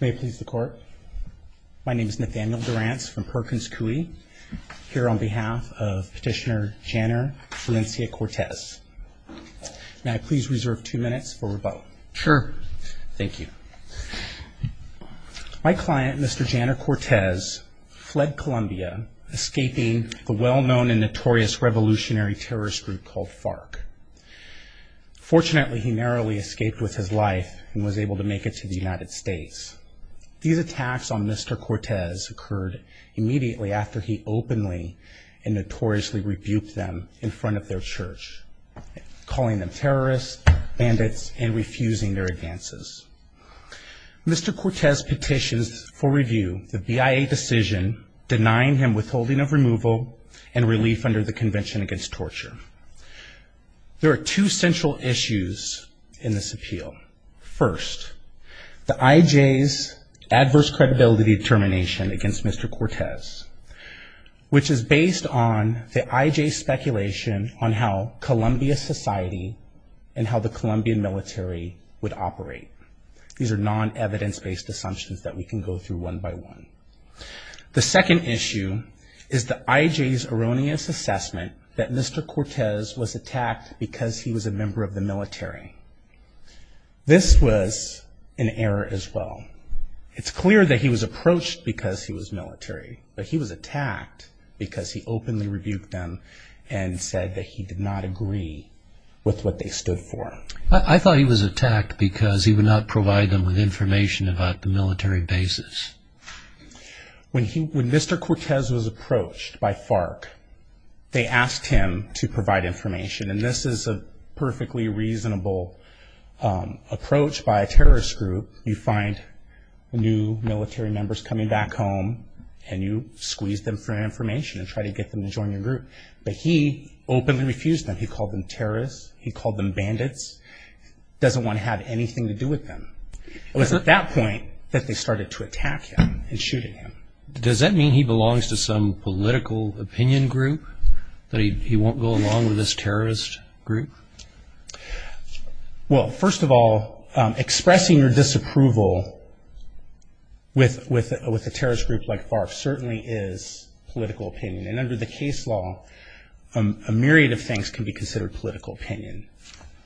May it please the court. My name is Nathaniel Durrance from Perkins Coie, here on behalf of petitioner Janner Valencia Cortes. May I please reserve two minutes for rebuttal? Sure. Thank you. My client, Mr. Janner Cortes, fled Colombia, escaping the well-known and notorious revolutionary terrorist group called FARC. Fortunately, he narrowly escaped with his life and was able to make it to the United States. These attacks on Mr. Cortes occurred immediately after he openly and notoriously rebuked them in front of their church, calling them terrorists, bandits, and refusing their advances. Mr. Cortes petitions for review the BIA decision denying him withholding of removal and relief under the Convention Against Torture. There are two central issues in this appeal. First, the IJ's adverse credibility determination against Mr. Cortes, which is based on the IJ's speculation on how Columbia society and how the Colombian military would operate. These are non-evidence-based assumptions that we can go through one by one. The second issue is the IJ's erroneous assessment that Mr. Cortes was attacked because he was a member of the military. This was an error as well. It's clear that he was approached because he was military, but he was attacked because he openly rebuked them and said that he did not agree with what they stood for. I thought he was attacked because he would not provide them with information about the military bases. When Mr. Cortes was approached by FARC, they asked him to provide information, and this is a perfectly reasonable approach by a terrorist group. You find new military members coming back home, and you squeeze them for information and try to get them to join your group. But he openly refused them. He called them terrorists. He called them bandits. He doesn't want to have anything to do with them. It was at that point that they started to attack him and shooting him. Does that mean he belongs to some political opinion group, that he won't go along with this terrorist group? Well, first of all, expressing your disapproval with a terrorist group like FARC certainly is political opinion, and under the case law, a myriad of things can be considered political opinion.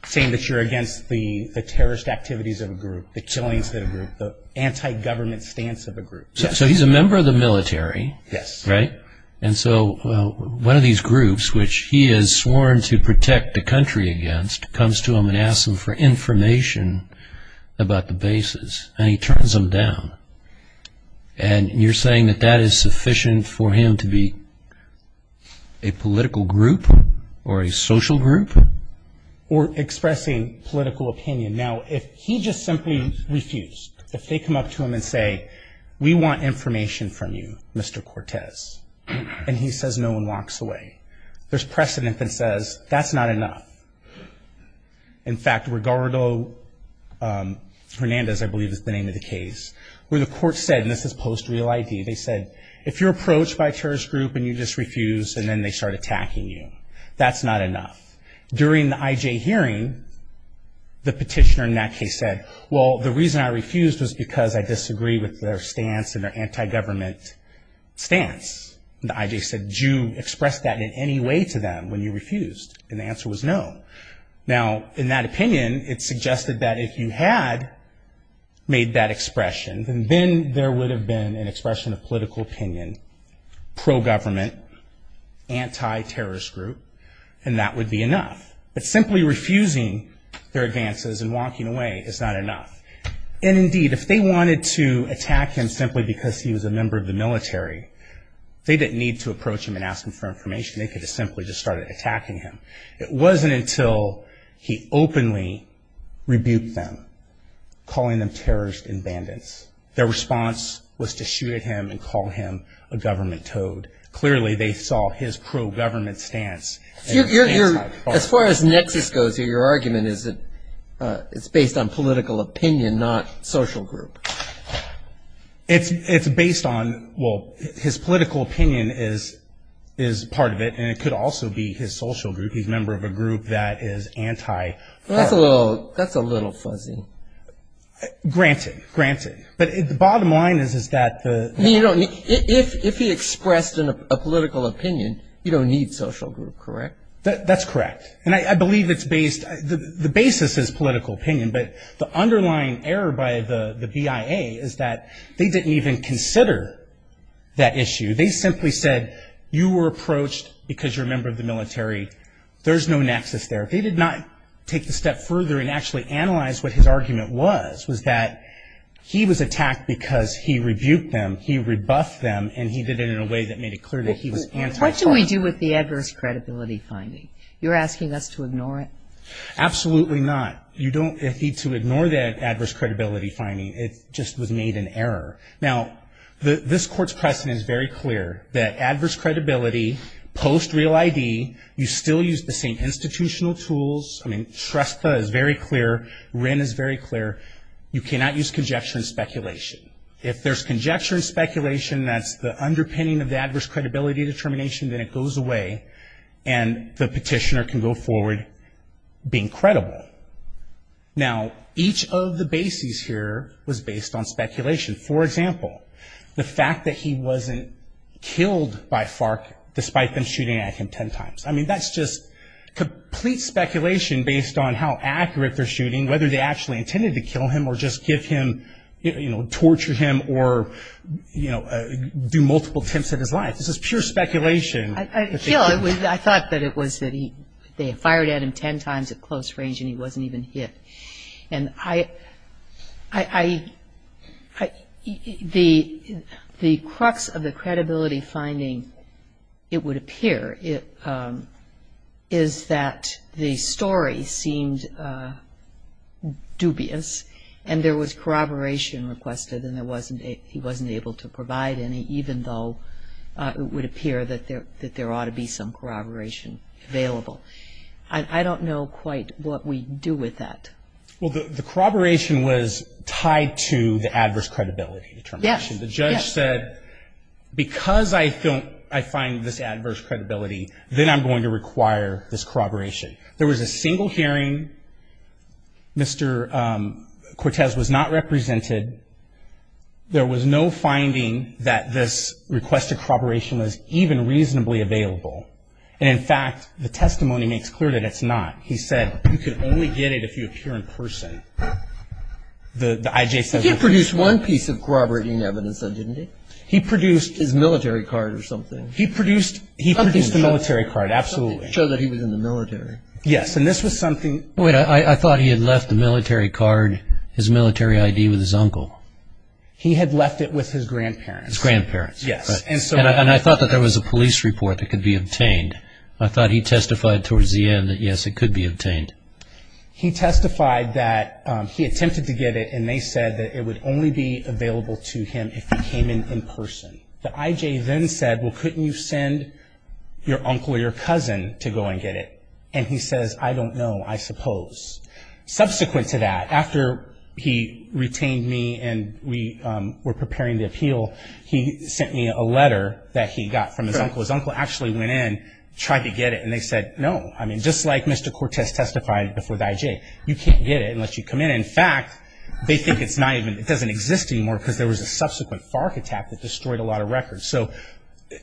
Saying that you're against the terrorist activities of a group, the killings of a group, the anti-government stance of a group. So he's a member of the military, right? Yes. And so one of these groups, which he has sworn to protect the country against, comes to him and asks him for information about the bases, and he turns them down. And you're saying that that is sufficient for him to be a political group or a social group? Or expressing political opinion. Now, if he just simply refused, if they come up to him and say, we want information from you, Mr. Cortez, and he says no and walks away. There's precedent that says that's not enough. In fact, Ricardo Hernandez, I believe is the name of the case, where the court said, and this is post-real ID, they said, if you're approached by a terrorist group and you just refuse, and then they start attacking you, that's not enough. During the IJ hearing, the petitioner in that case said, well, the reason I refused was because I disagree with their stance and their anti-government stance. The IJ said, did you express that in any way to them when you refused? And the answer was no. Now, in that opinion, it suggested that if you had made that expression, then there would have been an expression of political opinion, pro-government, anti-terrorist group, and that would be enough. But simply refusing their advances and walking away is not enough. And indeed, if they wanted to attack him simply because he was a member of the military, they didn't need to approach him and ask him for information. They could have simply just started attacking him. It wasn't until he openly rebuked them, calling them terrorist inbandants, their response was to shoot at him and call him a government toad. Clearly, they saw his pro-government stance. As far as nexus goes here, your argument is that it's based on political opinion, not social group. It's based on, well, his political opinion is part of it, and it could also be his social group. He's a member of a group that is anti-terror. That's a little fuzzy. Granted, granted. But the bottom line is that the – If he expressed a political opinion, you don't need social group, correct? That's correct. And I believe it's based – the basis is political opinion, but the underlying error by the BIA is that they didn't even consider that issue. They simply said you were approached because you're a member of the military. There's no nexus there. If they did not take the step further and actually analyze what his argument was, was that he was attacked because he rebuked them, he rebuffed them, and he did it in a way that made it clear that he was anti-terror. What should we do with the adverse credibility finding? You're asking us to ignore it? Absolutely not. You don't need to ignore that adverse credibility finding. It just was made an error. Now, this Court's precedent is very clear that adverse credibility, post-real ID, you still use the same institutional tools. I mean, STRESPA is very clear. WRIN is very clear. You cannot use conjecture and speculation. If there's conjecture and speculation, that's the underpinning of the adverse credibility determination, then it goes away. And the petitioner can go forward being credible. Now, each of the bases here was based on speculation. For example, the fact that he wasn't killed by FARC despite them shooting at him ten times. I mean, that's just complete speculation based on how accurate their shooting, whether they actually intended to kill him or just give him, you know, torture him or, you know, do multiple attempts at his life. This is pure speculation. I thought that it was that they fired at him ten times at close range and he wasn't even hit. And the crux of the credibility finding, it would appear, is that the story seemed dubious and there was corroboration requested and he wasn't able to provide any even though it would appear that there ought to be some corroboration available. I don't know quite what we do with that. Well, the corroboration was tied to the adverse credibility determination. Yes. Yes. The judge said because I find this adverse credibility, then I'm going to require this corroboration. There was a single hearing. Mr. Cortez was not represented. There was no finding that this requested corroboration was even reasonably available. And, in fact, the testimony makes clear that it's not. He said you can only get it if you appear in person. The IJ says it's not. He produced one piece of corroborating evidence, though, didn't he? He produced. His military card or something. Something to show that he was in the military. Yes, and this was something. I thought he had left the military card, his military ID with his uncle. He had left it with his grandparents. His grandparents. Yes. And I thought that there was a police report that could be obtained. I thought he testified towards the end that, yes, it could be obtained. He testified that he attempted to get it and they said that it would only be available to him if he came in in person. The IJ then said, well, couldn't you send your uncle or your cousin to go and get it? And he says, I don't know, I suppose. Subsequent to that, after he retained me and we were preparing the appeal, he sent me a letter that he got from his uncle. His uncle actually went in, tried to get it, and they said no. I mean, just like Mr. Cortez testified before the IJ. You can't get it unless you come in. In fact, they think it's not even, it doesn't exist anymore because there was a subsequent FARC attack that destroyed a lot of records. So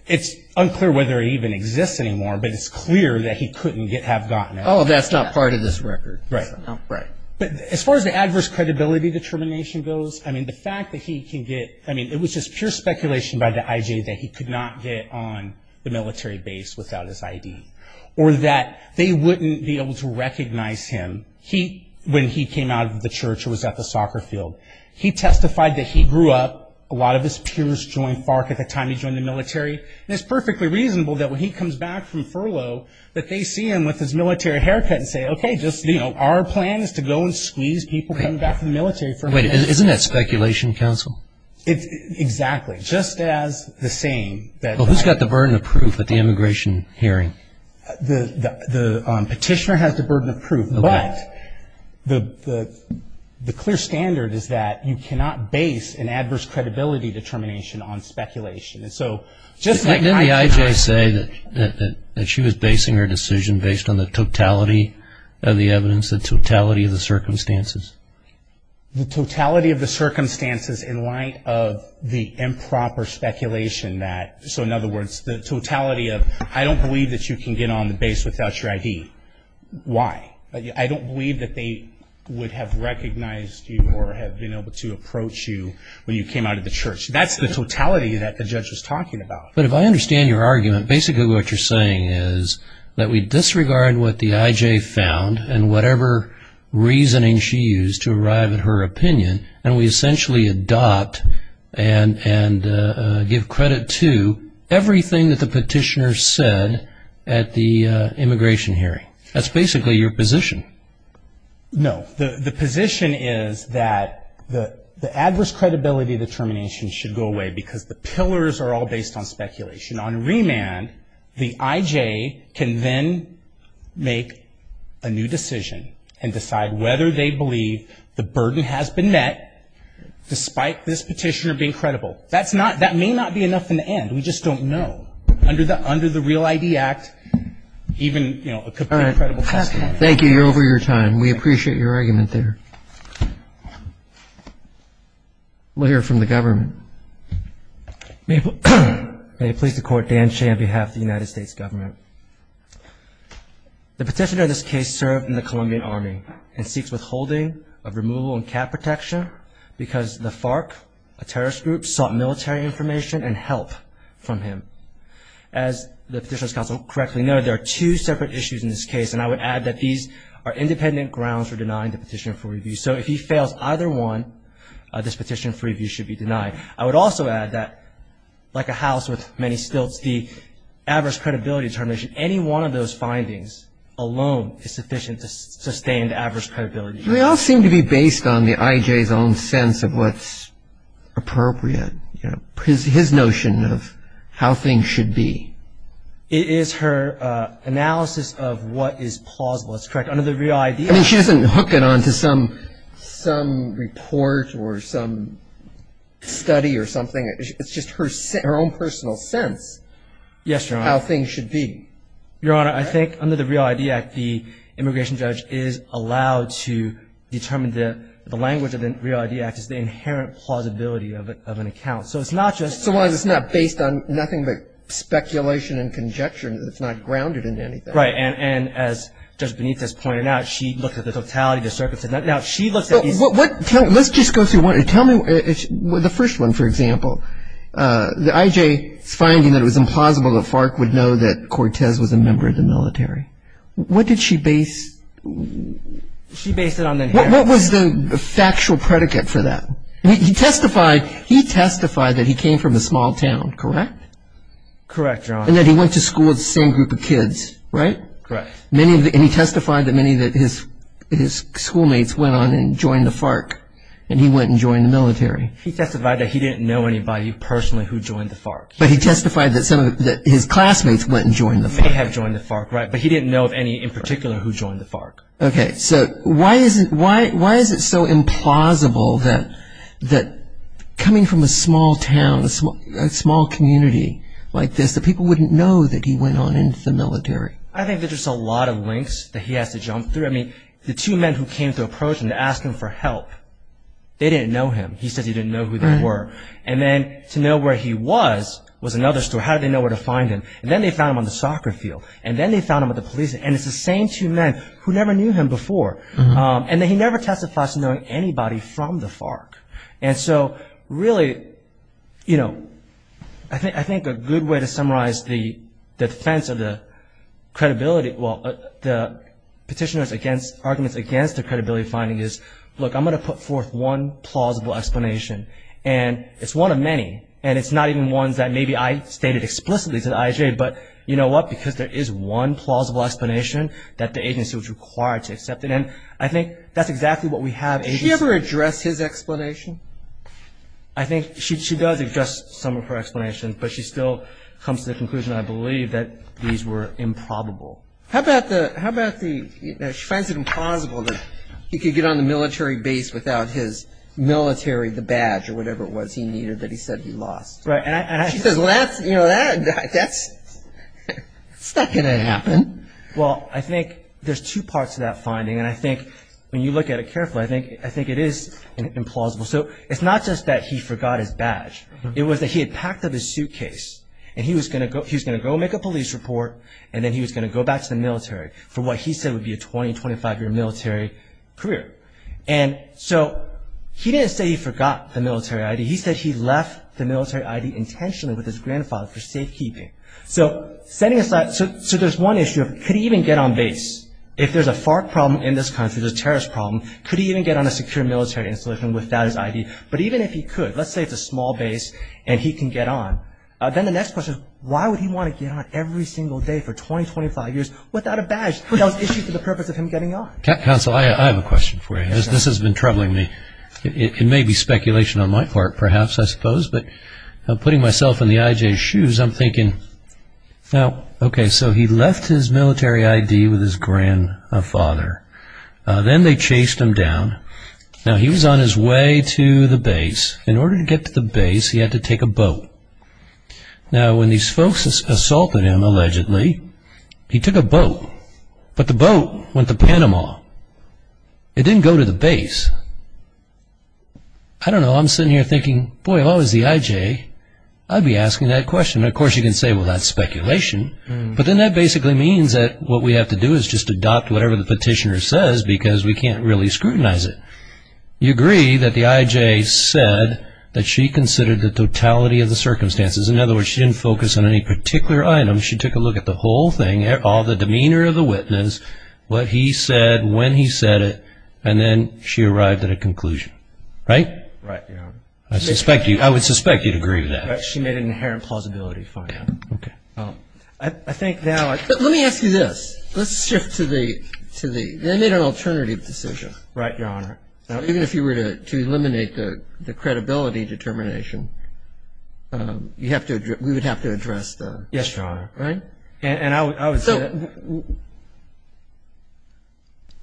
it's unclear whether it even exists anymore, but it's clear that he couldn't have gotten it. Oh, that's not part of this record. Right. Right. But as far as the adverse credibility determination goes, I mean, the fact that he can get, I mean, it was just pure speculation by the IJ that he could not get on the military base without his ID or that they wouldn't be able to recognize him when he came out of the church or was at the soccer field. He testified that he grew up, a lot of his peers joined FARC at the time he joined the military, and it's perfectly reasonable that when he comes back from furlough that they see him with his military haircut and say, okay, just, you know, our plan is to go and squeeze people coming back from the military. Wait. Isn't that speculation, counsel? Exactly. Just as the same. Well, who's got the burden of proof at the immigration hearing? The petitioner has the burden of proof, but the clear standard is that you cannot base an adverse credibility determination on speculation. And so just like IJ. Didn't the IJ say that she was basing her decision based on the totality of the evidence, the totality of the circumstances? The totality of the circumstances in light of the improper speculation that, so in other words, the totality of I don't believe that you can get on the base without your ID. Why? I don't believe that they would have recognized you or have been able to approach you when you came out of the church. That's the totality that the judge was talking about. But if I understand your argument, basically what you're saying is that we disregard what the IJ found and whatever reasoning she used to arrive at her opinion, and we essentially adopt and give credit to everything that the petitioner said at the immigration hearing. That's basically your position. No. The position is that the adverse credibility determination should go away because the pillars are all based on speculation. On remand, the IJ can then make a new decision and decide whether they believe the burden has been met despite this petitioner being credible. That may not be enough in the end. We just don't know. Under the Real ID Act, even a complete credible testimony. Thank you. You're over your time. We appreciate your argument there. We'll hear from the government. May it please the Court, Dan Shea on behalf of the United States government. The petitioner in this case served in the Colombian Army and seeks withholding of removal and cap protection because the FARC, a terrorist group, sought military information and help from him. As the Petitioner's Counsel correctly noted, there are two separate issues in this case, and I would add that these are independent grounds for denying the petitioner for review. So if he fails either one, this petitioner for review should be denied. I would also add that, like a house with many stilts, the adverse credibility determination, any one of those findings alone is sufficient to sustain the adverse credibility determination. They all seem to be based on the IJ's own sense of what's appropriate, his notion of how things should be. It is her analysis of what is plausible. That's correct. Under the Real ID Act. I mean, she doesn't hook it on to some report or some study or something. It's just her own personal sense. Yes, Your Honor. How things should be. Your Honor, I think under the Real ID Act, the immigration judge is allowed to determine the language of the Real ID Act as the inherent plausibility of an account. So it's not just. So it's not based on nothing but speculation and conjecture. It's not grounded in anything. Right. And as Judge Benitez pointed out, she looked at the totality, the circumstances. Now, she looks at these. Let's just go through one. Tell me the first one, for example. The IJ's finding that it was implausible the FARC would know that Cortez was a member of the military. What did she base? She based it on the inheritance. What was the factual predicate for that? He testified that he came from a small town, correct? Correct, Your Honor. And that he went to school with the same group of kids, right? Correct. And he testified that many of his schoolmates went on and joined the FARC and he went and joined the military. He testified that he didn't know anybody personally who joined the FARC. But he testified that some of his classmates went and joined the FARC. May have joined the FARC, right. But he didn't know of any in particular who joined the FARC. Okay. So why is it so implausible that coming from a small town, a small community like this, that people wouldn't know that he went on into the military? I think there's just a lot of links that he has to jump through. I mean, the two men who came to approach him to ask him for help, they didn't know him. He said he didn't know who they were. And then to know where he was was another story. How did they know where to find him? And then they found him on the soccer field. And then they found him at the police station. And it's the same two men who never knew him before. And he never testified to knowing anybody from the FARC. And so really, you know, I think a good way to summarize the defense of the credibility, well, the petitioner's arguments against the credibility finding is, look, I'm going to put forth one plausible explanation. And it's one of many. And it's not even ones that maybe I stated explicitly to the IJA. But you know what? Because there is one plausible explanation that the agency was required to accept. And I think that's exactly what we have. Did she ever address his explanation? I think she does address some of her explanations. But she still comes to the conclusion, I believe, that these were improbable. How about the, how about the, you know, she finds it implausible that he could get on the military base without his military, the badge or whatever it was he needed that he said he lost. She says, well, that's, you know, that's not going to happen. Well, I think there's two parts to that finding. And I think when you look at it carefully, I think it is implausible. So it's not just that he forgot his badge. It was that he had packed up his suitcase, and he was going to go make a police report, and then he was going to go back to the military for what he said would be a 20, 25-year military career. And so he didn't say he forgot the military ID. He said he left the military ID intentionally with his grandfather for safekeeping. So setting aside, so there's one issue of could he even get on base if there's a FARC problem in this country, there's a terrorist problem. Could he even get on a secure military installation without his ID? But even if he could, let's say it's a small base and he can get on, then the next question is why would he want to get on every single day for 20, 25 years without a badge? That was issued for the purpose of him getting on. Counsel, I have a question for you. This has been troubling me. It may be speculation on my part, perhaps, I suppose. But putting myself in the IJ's shoes, I'm thinking, now, okay, so he left his military ID with his grandfather. Then they chased him down. Now, he was on his way to the base. In order to get to the base, he had to take a boat. Now, when these folks assaulted him, allegedly, he took a boat. But the boat went to Panama. It didn't go to the base. I don't know. I'm sitting here thinking, boy, if I was the IJ, I'd be asking that question. Of course, you can say, well, that's speculation. But then that basically means that what we have to do is just adopt whatever the petitioner says because we can't really scrutinize it. You agree that the IJ said that she considered the totality of the circumstances. In other words, she didn't focus on any particular item. She took a look at the whole thing, all the demeanor of the witness, what he said, when he said it, and then she arrived at a conclusion. Right? Right. I would suspect you'd agree with that. She made an inherent plausibility for me. Okay. I think now I could. Let me ask you this. Let's shift to the they made an alternative decision. Right, Your Honor. Even if you were to eliminate the credibility determination, we would have to address the... Yes, Your Honor. Right? And I would say that... So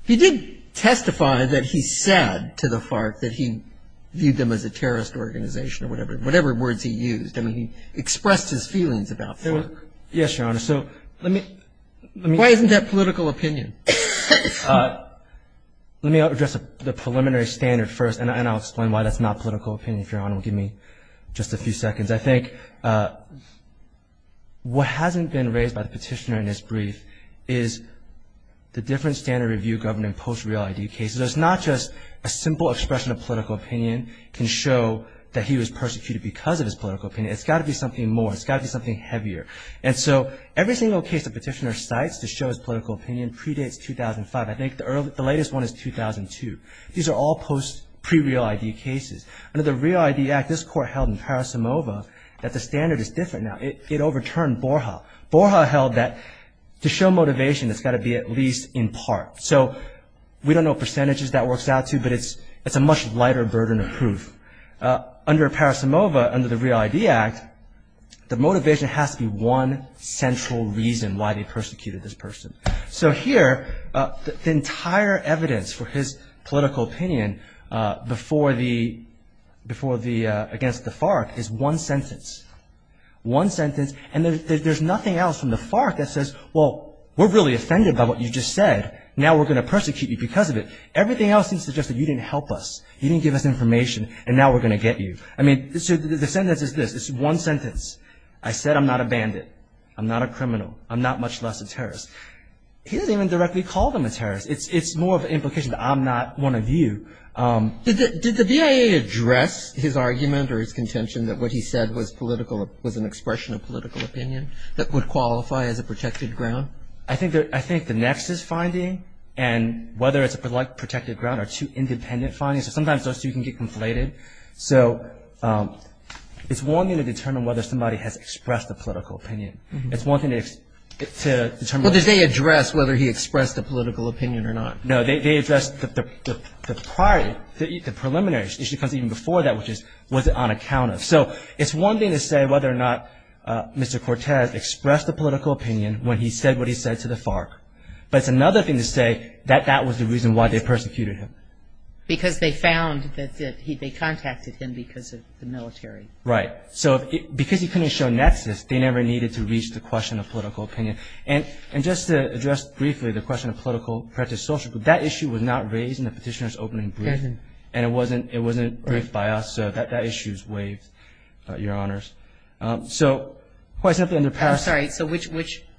he did testify that he said to the FARC that he viewed them as a terrorist organization or whatever words he used. I mean, he expressed his feelings about FARC. Yes, Your Honor. So let me... Why isn't that political opinion? Let me address the preliminary standard first, and I'll explain why that's not political opinion if Your Honor will give me just a few seconds. I think what hasn't been raised by the petitioner in this brief is the different standard review governing post-real ID cases. It's not just a simple expression of political opinion can show that he was persecuted because of his political opinion. It's got to be something more. It's got to be something heavier. And so every single case the petitioner cites to show his political opinion predates 2005. I think the latest one is 2002. These are all post-pre-real ID cases. Under the Real ID Act, this Court held in Parisimova that the standard is different now. It overturned Borja. Borja held that to show motivation, it's got to be at least in part. So we don't know what percentages that works out to, but it's a much lighter burden of proof. Under Parisimova, under the Real ID Act, the motivation has to be one central reason why they persecuted this person. So here, the entire evidence for his political opinion against the FARC is one sentence. One sentence, and there's nothing else from the FARC that says, well, we're really offended by what you just said, now we're going to persecute you because of it. Everything else seems to suggest that you didn't help us. You didn't give us information, and now we're going to get you. I mean, the sentence is this. It's one sentence. I said I'm not a bandit. I'm not a criminal. I'm not much less a terrorist. He didn't even directly call them a terrorist. It's more of an implication that I'm not one of you. Did the BIA address his argument or his contention that what he said was political, was an expression of political opinion that would qualify as a protected ground? I think the nexus finding and whether it's a protected ground are two independent findings. Sometimes those two can get conflated. So it's one thing to determine whether somebody has expressed a political opinion. It's one thing to determine. Well, did they address whether he expressed a political opinion or not? No, they addressed the prior, the preliminary. It comes even before that, which is was it on account of. So it's one thing to say whether or not Mr. Cortez expressed a political opinion when he said what he said to the FARC, but it's another thing to say that that was the reason why they persecuted him. Because they found that they contacted him because of the military. Right. So because he couldn't show nexus, they never needed to reach the question of political opinion. And just to address briefly the question of political social, that issue was not raised in the petitioner's opening brief, and it wasn't briefed by us. So that issue is waived, Your Honors. So quite simply in the past. I'm sorry. So which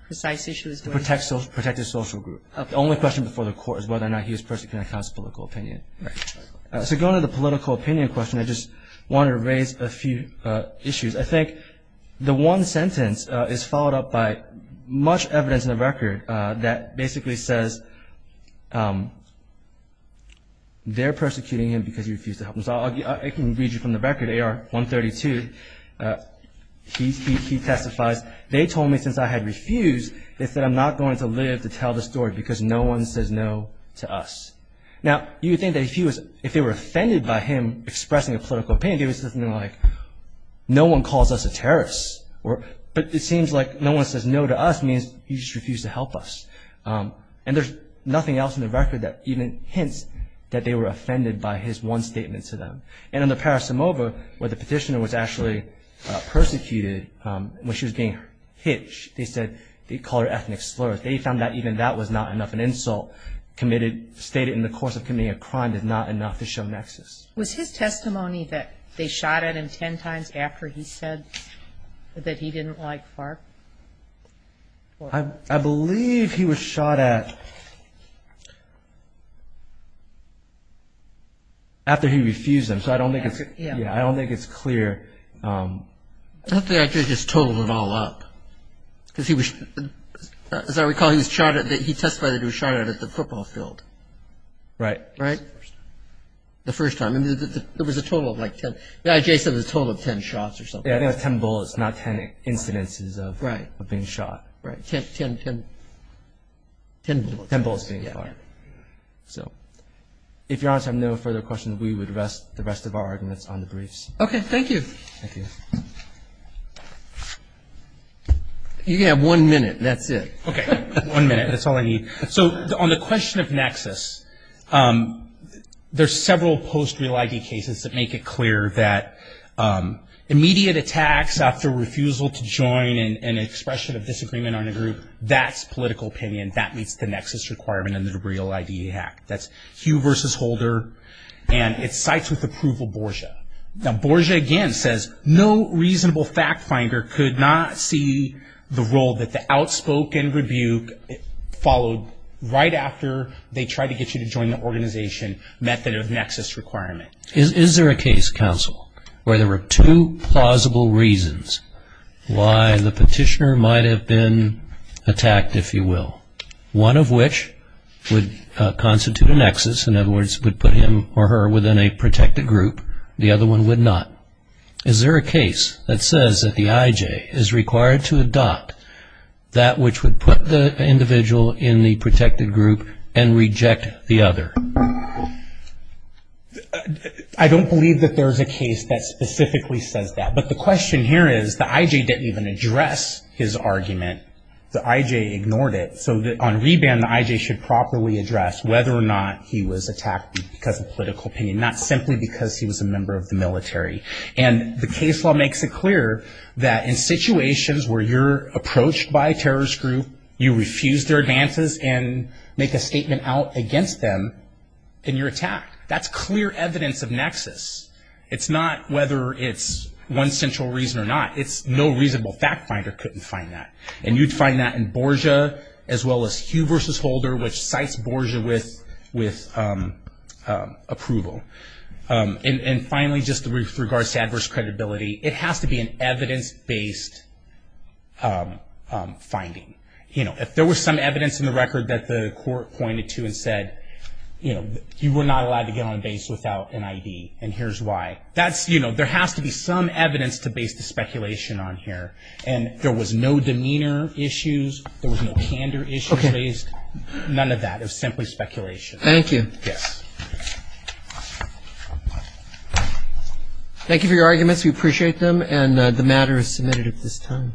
precise issue is waived? The protected social group. The only question before the Court is whether or not he was persecuting accounts of political opinion. Right. So going to the political opinion question, I just wanted to raise a few issues. I think the one sentence is followed up by much evidence in the record that basically says they're persecuting him because he refused to help them. So I can read you from the record, AR 132. He testifies, they told me since I had refused, they said, I'm not going to live to tell the story because no one says no to us. Now, you would think that if they were offended by him expressing a political opinion, they would say something like, no one calls us a terrorist. But it seems like no one says no to us means he just refused to help us. And there's nothing else in the record that even hints that they were offended by his one statement to them. And in the parisimova, where the petitioner was actually persecuted when she was being hit, they said they called her ethnic slurs. They found that even that was not enough. An insult stated in the course of committing a crime is not enough to show nexus. Was his testimony that they shot at him ten times after he said that he didn't like FARC? I believe he was shot at after he refused them. So I don't think it's clear. I think they actually just totaled it all up. As I recall, he testified that he was shot at at the football field. Right. Right? The first time. It was a total of like ten. The IJ said it was a total of ten shots or something. Ten bullets, not ten incidences of being shot. Right. Ten bullets. Ten bullets being fired. So if you're honest, I have no further questions. We would rest the rest of our arguments on the briefs. Okay. Thank you. Thank you. You have one minute. That's it. Okay. One minute. That's all I need. So on the question of nexus, there's several post-Real ID cases that make it clear that immediate attacks after refusal to join and expression of disagreement on a group, that's political opinion. That meets the nexus requirement in the Real ID Act. That's Hugh versus Holder, and it cites with approval Borgia. Now, Borgia, again, says no reasonable fact finder could not see the role that the outspoken rebuke followed right after they tried to get you to join the organization method of nexus requirement. Is there a case, counsel, where there were two plausible reasons why the petitioner might have been attacked, if you will, one of which would constitute a nexus, in other words, would put him or her within a protected group, and the other one would not? Is there a case that says that the IJ is required to adopt that which would put the individual in the protected group and reject the other? I don't believe that there's a case that specifically says that. But the question here is the IJ didn't even address his argument. The IJ ignored it. So on reban, the IJ should properly address whether or not he was attacked because of political opinion, not simply because he was a member of the military. And the case law makes it clear that in situations where you're approached by a terrorist group, you refuse their advances and make a statement out against them, and you're attacked. That's clear evidence of nexus. It's not whether it's one central reason or not. It's no reasonable fact finder couldn't find that. And you'd find that in Borgia as well as Hugh versus Holder, which cites Borgia with approval. And finally, just with regards to adverse credibility, it has to be an evidence-based finding. If there was some evidence in the record that the court pointed to and said, you were not allowed to get on base without an ID, and here's why, there has to be some evidence to base the speculation on here. And there was no demeanor issues. There was no candor issues raised. None of that. It was simply speculation. Thank you. Yes. Thank you for your arguments. We appreciate them. And the matter is submitted at this time.